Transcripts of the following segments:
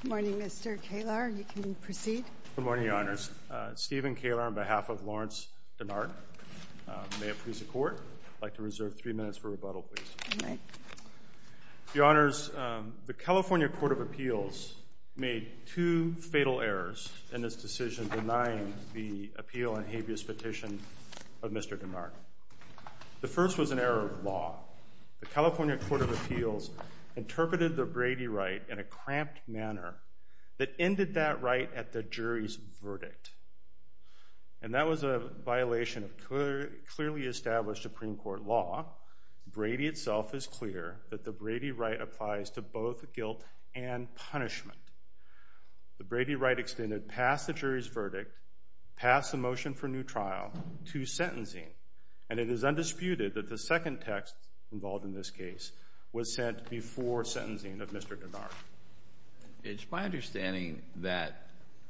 Good morning, Mr. Kaler. You can proceed. Good morning, Your Honors. Stephen Kaler on behalf of Lawrence Denard. May it please the Court. I'd like to reserve three minutes for rebuttal, please. All right. Your Honors, the California Court of Appeals made two fatal errors in this decision denying the appeal and habeas petition of Mr. Denard. The first was an error of law. The California Court of Appeals interpreted the Brady right in a cramped manner that ended that right at the jury's verdict. And that was a violation of clearly established Supreme Court law. Brady itself is clear that the Brady right applies to both guilt and punishment. The Brady right extended past the jury's verdict, past the motion for new trial, to sentencing. And it is undisputed that the second text involved in this case was sent before sentencing of Mr. Denard. It's my understanding that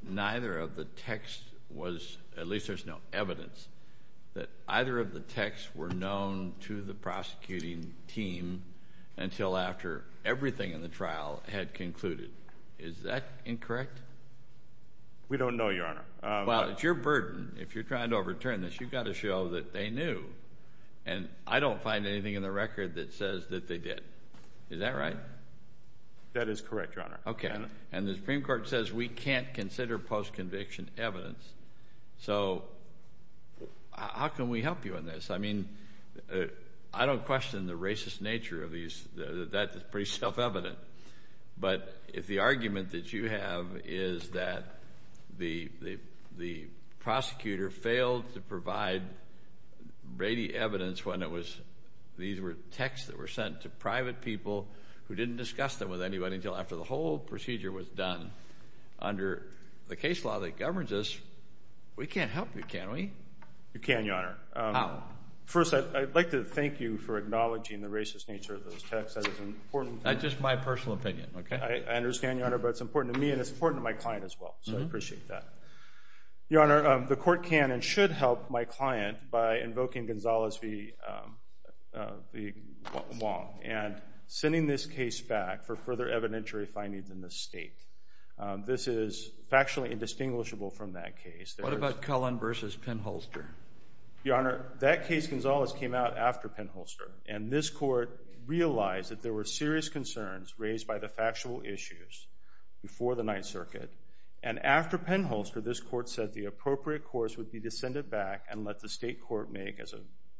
neither of the texts was, at least there's no evidence, that either of the texts were known to the prosecuting team until after everything in the trial had concluded. Is that incorrect? We don't know, Your Honor. Well, it's your burden. If you're trying to overturn this, you've got to show that they knew. And I don't find anything in the record that says that they did. Is that right? That is correct, Your Honor. And the Supreme Court says we can't consider post-conviction evidence. So how can we help you on this? I mean, I don't question the racist nature of these. That is pretty self-evident. But if the argument that you have is that the prosecutor failed to provide Brady evidence when these were texts that were sent to private people who didn't discuss them with anybody until after the whole procedure was done under the case law that governs us, we can't help you, can we? You can, Your Honor. How? First, I'd like to thank you for acknowledging the racist nature of those texts. That is an important thing. That's just my personal opinion, OK? I understand, Your Honor, but it's important to me and it's important to my client as well. So I appreciate that. Your Honor, the court can and should help my client by invoking Gonzales v. Wong and sending this case back for further evidentiary findings in the state. This is factually indistinguishable from that case. What about Cullen versus Penholster? Your Honor, that case, Gonzales, came out after Penholster. And this court realized that there were serious concerns raised by the factual issues before the Ninth Circuit. And after Penholster, this court said the appropriate course would be to send it back and let the state court make, as a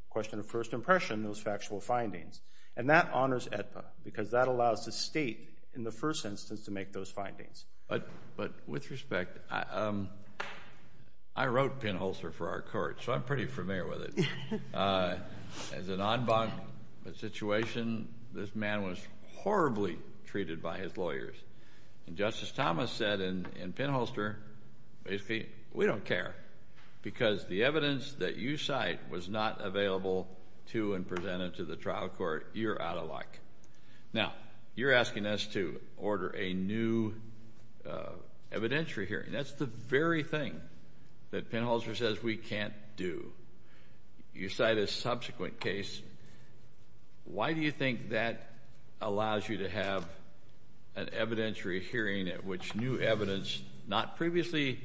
question of first impression, those factual findings. And that honors AEDPA, because that allows the state, in the first instance, to make those findings. But with respect, I wrote Penholster for our court, so I'm pretty familiar with it. As an en banc situation, this man was horribly treated by his lawyers. And Justice Thomas said in Penholster, basically, we don't care, because the evidence that you cite was not available to and presented to the trial court. You're out of luck. Now, you're asking us to order a new evidentiary hearing. That's the very thing that Penholster says we can't do. You cite a subsequent case. Why do you think that allows you to have an evidentiary hearing at which new evidence, not previously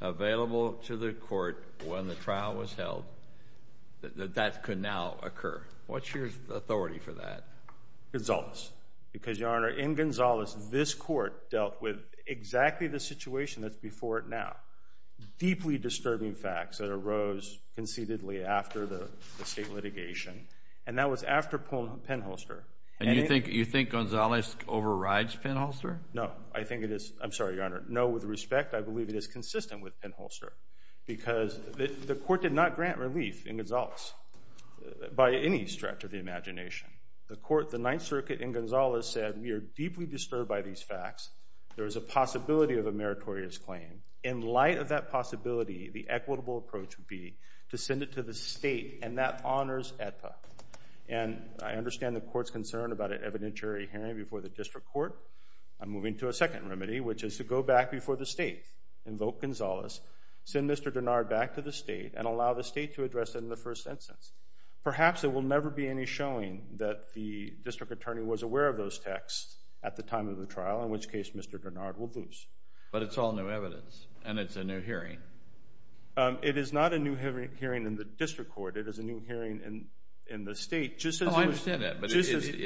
available to the court when the trial was held, that that could now occur? What's your authority for that? Gonzales. Because, Your Honor, in Gonzales, this court dealt with exactly the situation that's before it now, deeply disturbing facts that arose conceitedly after the state litigation. And that was after Penholster. And you think Gonzales overrides Penholster? No. I'm sorry, Your Honor. No, with respect, I believe it is consistent with Penholster. Because the court did not grant relief in Gonzales by any stretch of the imagination. The Ninth Circuit in Gonzales said, we are deeply disturbed by these facts. There is a possibility of a meritorious claim. In light of that possibility, the equitable approach would be to send it to the state, and that honors AETA. And I understand the court's concern about an evidentiary hearing before the district court. I'm moving to a second remedy, which is to go back before the state, invoke Gonzales, send Mr. Denard back to the state, and allow the state to address it in the first instance. Perhaps there will never be any showing that the district attorney was aware of those texts at the time of the trial, in which case Mr. Denard will lose. But it's all new evidence, and it's a new hearing. It is not a new hearing in the district court. It is a new hearing in the state, just as it was. Oh, I understand that. But it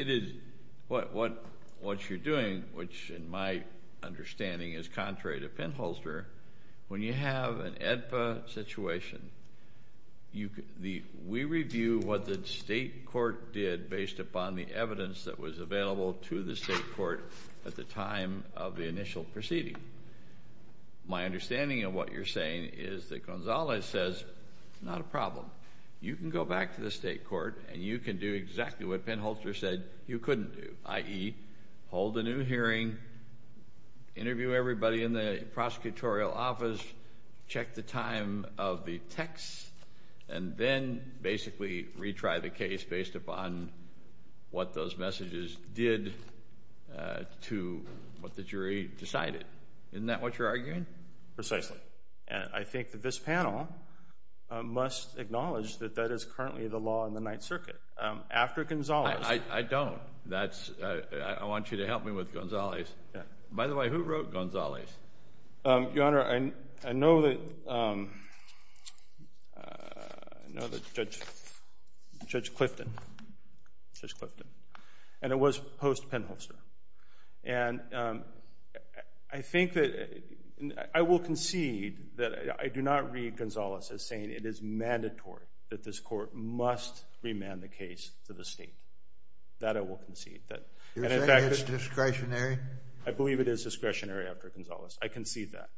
is what you're doing, which in my understanding is contrary to Penholster. When you have an AETA situation, we review what the state court did based upon the evidence that was available to the state court at the time of the initial proceeding. My understanding of what you're saying is that Gonzales says, not a problem. You can go back to the state court, and you can do exactly what Penholster said you couldn't do, i.e. hold a new hearing, interview everybody in the prosecutorial office, check the time of the texts, and then basically retry the case based upon what those messages did to what the jury decided. Isn't that what you're arguing? Precisely. And I think that this panel must acknowledge that that is currently the law in the Ninth Circuit. After Gonzales. I don't. I want you to help me with Gonzales. By the way, who wrote Gonzales? Your Honor, I know that Judge Clifton. And it was post-Penholster. And I think that I will concede that I do not read Gonzales as saying it is mandatory that this court must remand the case to the state. That I will concede. You're saying it's discretionary? I believe it is discretionary after Gonzales. I concede that.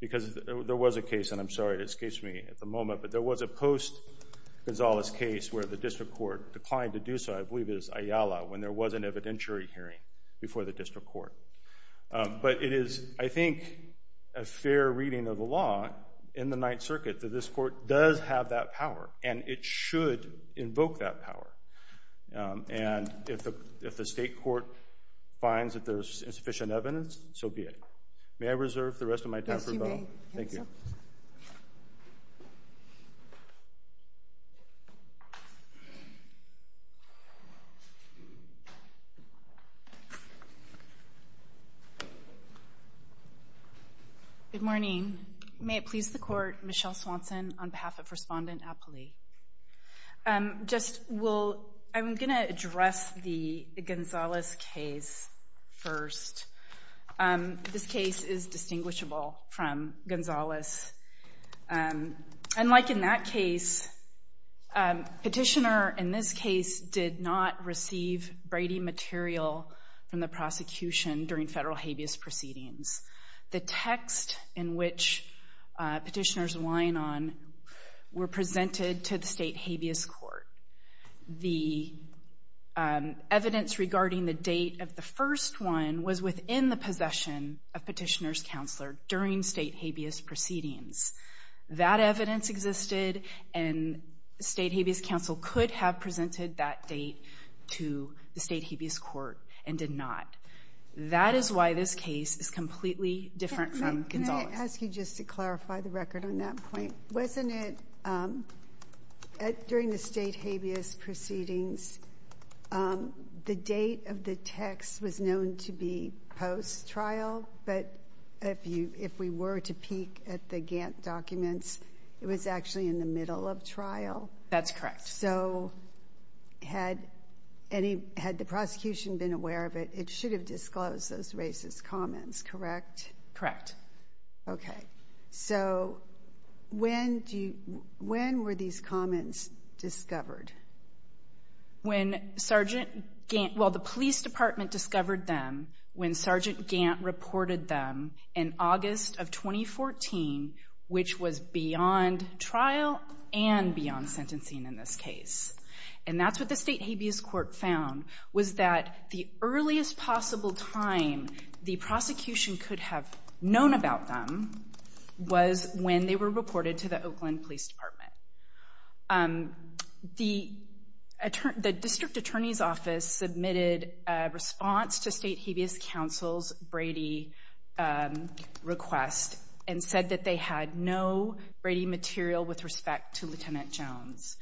Because there was a case, and I'm sorry to escape me at the moment, but there was a post-Gonzales case where the district court declined to do so. I believe it was Ayala when there was an evidentiary hearing before the district court. But it is, I think, a fair reading of the law in the Ninth Circuit that this court does have that power. And it should invoke that power. And if the state court finds that there's insufficient evidence, so be it. May I reserve the rest of my time for rebuttal? Yes, you may. Thank you. Thank you. Good morning. May it please the court, Michelle Swanson on behalf of Respondent Apley. I'm going to address the Gonzales case first. This case is distinguishable from Gonzales. Unlike in that case, petitioner in this case did not receive Brady material from the prosecution during federal habeas proceedings. The text in which petitioners line on were presented to the state habeas court. The evidence regarding the date of the first one was within the possession of petitioner's counselor during state habeas proceedings. That evidence existed, and the state habeas counsel could have presented that date to the state habeas court and did not. That is why this case is completely different from Gonzales. Can I ask you just to clarify the record on that point? Wasn't it during the state habeas proceedings, the date of the text was known to be post-trial, but if you were to peek at the Gantt documents, it was actually in the middle of trial? That's correct. So had the prosecution been aware of it, it should have disclosed those racist comments, correct? Correct. OK. So when were these comments discovered? When the police department discovered them when Sergeant Gantt reported them in August of 2014, which was beyond trial and beyond sentencing in this case. And that's what the state habeas court found, was that the earliest possible time the prosecution could have known about them was when they were reported to the Oakland Police Department. The district attorney's office submitted a response to state habeas counsel's Brady request and said that they had no Brady material with respect to Lieutenant Jones.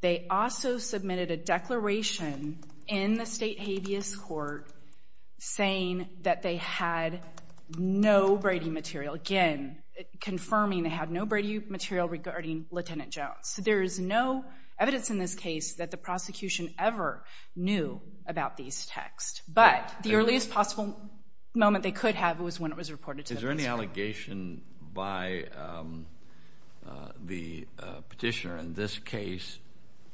They also submitted a declaration in the state habeas court saying that they had no Brady material, again, confirming they had no Brady material regarding Lieutenant Jones. There is no evidence in this case that the prosecution ever knew about these texts. But the earliest possible moment they could have was when it was reported to the police department. Is there any allegation by the petitioner in this case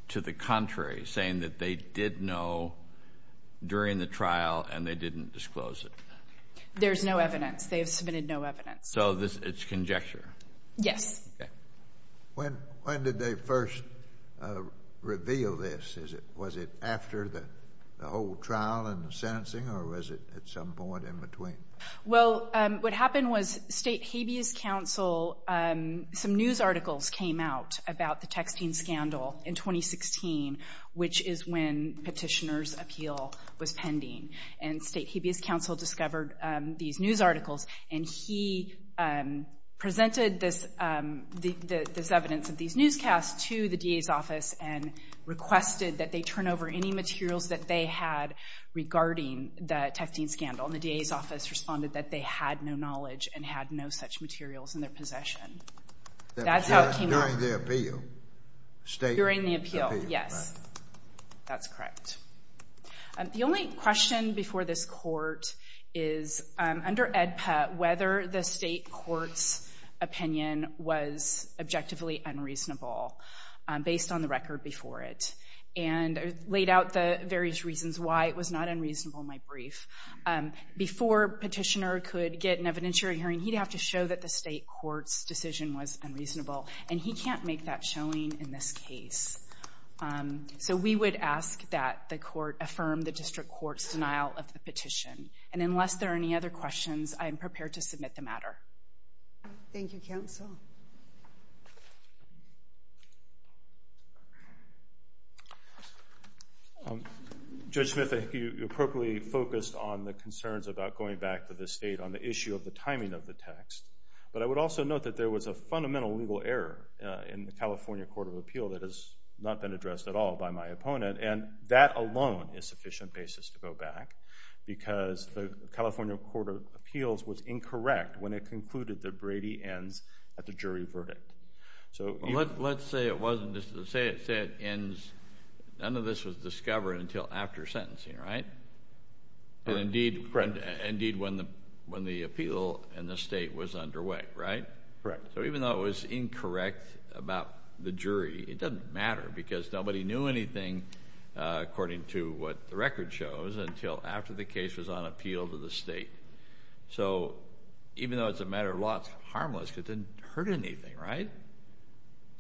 to the contrary, saying that they did know during the trial and they didn't disclose it? There's no evidence. They have submitted no evidence. So it's conjecture? Yes. When did they first reveal this? Was it after the whole trial and the sentencing, or was it at some point in between? Well, what happened was state habeas counsel, some news articles came out about the texting scandal in 2016, which is when petitioner's appeal was pending. And state habeas counsel discovered these news articles. And he presented this evidence of these newscasts to the DA's office and requested that they turn over any materials that they had regarding the texting scandal. And the DA's office responded that they had no knowledge and had no such materials in their possession. That's how it came out. During the appeal? During the appeal, yes. That's correct. The only question before this court is, under AEDPA, whether the state court's opinion was objectively unreasonable based on the record before it. And I laid out the various reasons why it was not unreasonable in my brief. Before petitioner could get an evidentiary hearing, he'd have to show that the state court's decision was unreasonable. And he can't make that showing in this case. So we would ask that the court affirm the district court's denial of the petition. And unless there are any other questions, I am prepared to submit the matter. Thank you, counsel. Judge Smith, I think you appropriately focused on the concerns about going back to the state on the issue of the timing of the text. But I would also note that there was a fundamental legal error in the California Court of Appeal that has not been addressed at all by my opponent. And that alone is sufficient basis to go back, because the California Court of Appeals ends at the end of the first quarter. And I think that's a good point. It's a jury verdict. Let's say it ends, none of this was discovered until after sentencing, right? And indeed, when the appeal in the state was underway, right? Correct. So even though it was incorrect about the jury, it doesn't matter. Because nobody knew anything, according to what the record shows, until after the case was on appeal to the state. So even though it's a matter of law, harmless, because it didn't hurt anything, right?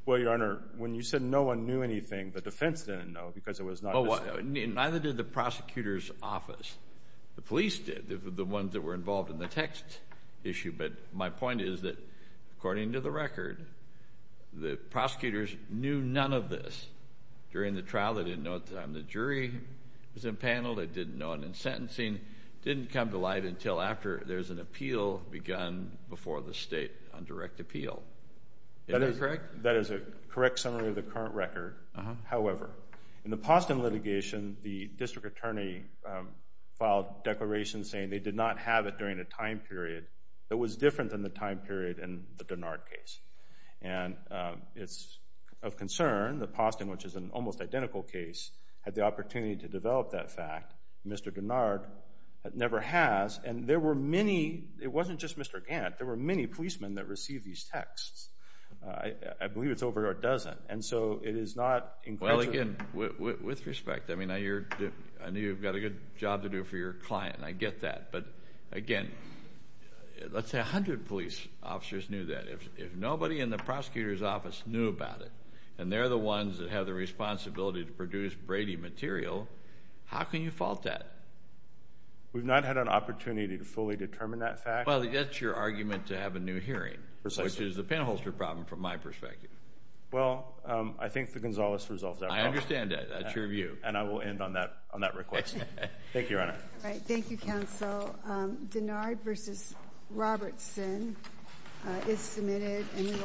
Well, Your Honor, when you said no one knew anything, the defense didn't know, because it was not listed. Neither did the prosecutor's office. The police did, the ones that were involved in the text issue. But my point is that, according to the record, the prosecutors knew none of this during the trial. They didn't know at the time the jury was impaneled. They didn't know it in sentencing. Didn't come to light until after there's an appeal begun before the state on direct appeal. Is that correct? That is a correct summary of the current record. However, in the Posten litigation, the district attorney filed declarations saying they did not have it during a time period that was different than the time period in the Dennard case. And it's of concern that Posten, which is an almost identical case, had the opportunity to develop that fact. Mr. Dennard never has. And there were many, it wasn't just Mr. Gant, there were many policemen that received these texts. I believe it's over a dozen. And so it is not encouraging. Well, again, with respect, I mean, I know you've got a good job to do for your client. I get that. But again, let's say 100 police officers knew that. If nobody in the prosecutor's office knew about it, and they're the ones that have the responsibility to produce Brady material, how can you fault that? We've not had an opportunity to fully determine that fact. Well, that's your argument to have a new hearing. Precisely. Which is a pinholster problem from my perspective. Well, I think the Gonzales results are wrong. I understand that. That's your view. And I will end on that request. Thank you, Your Honor. Thank you, counsel. Dennard v. Robertson is submitted. And we will.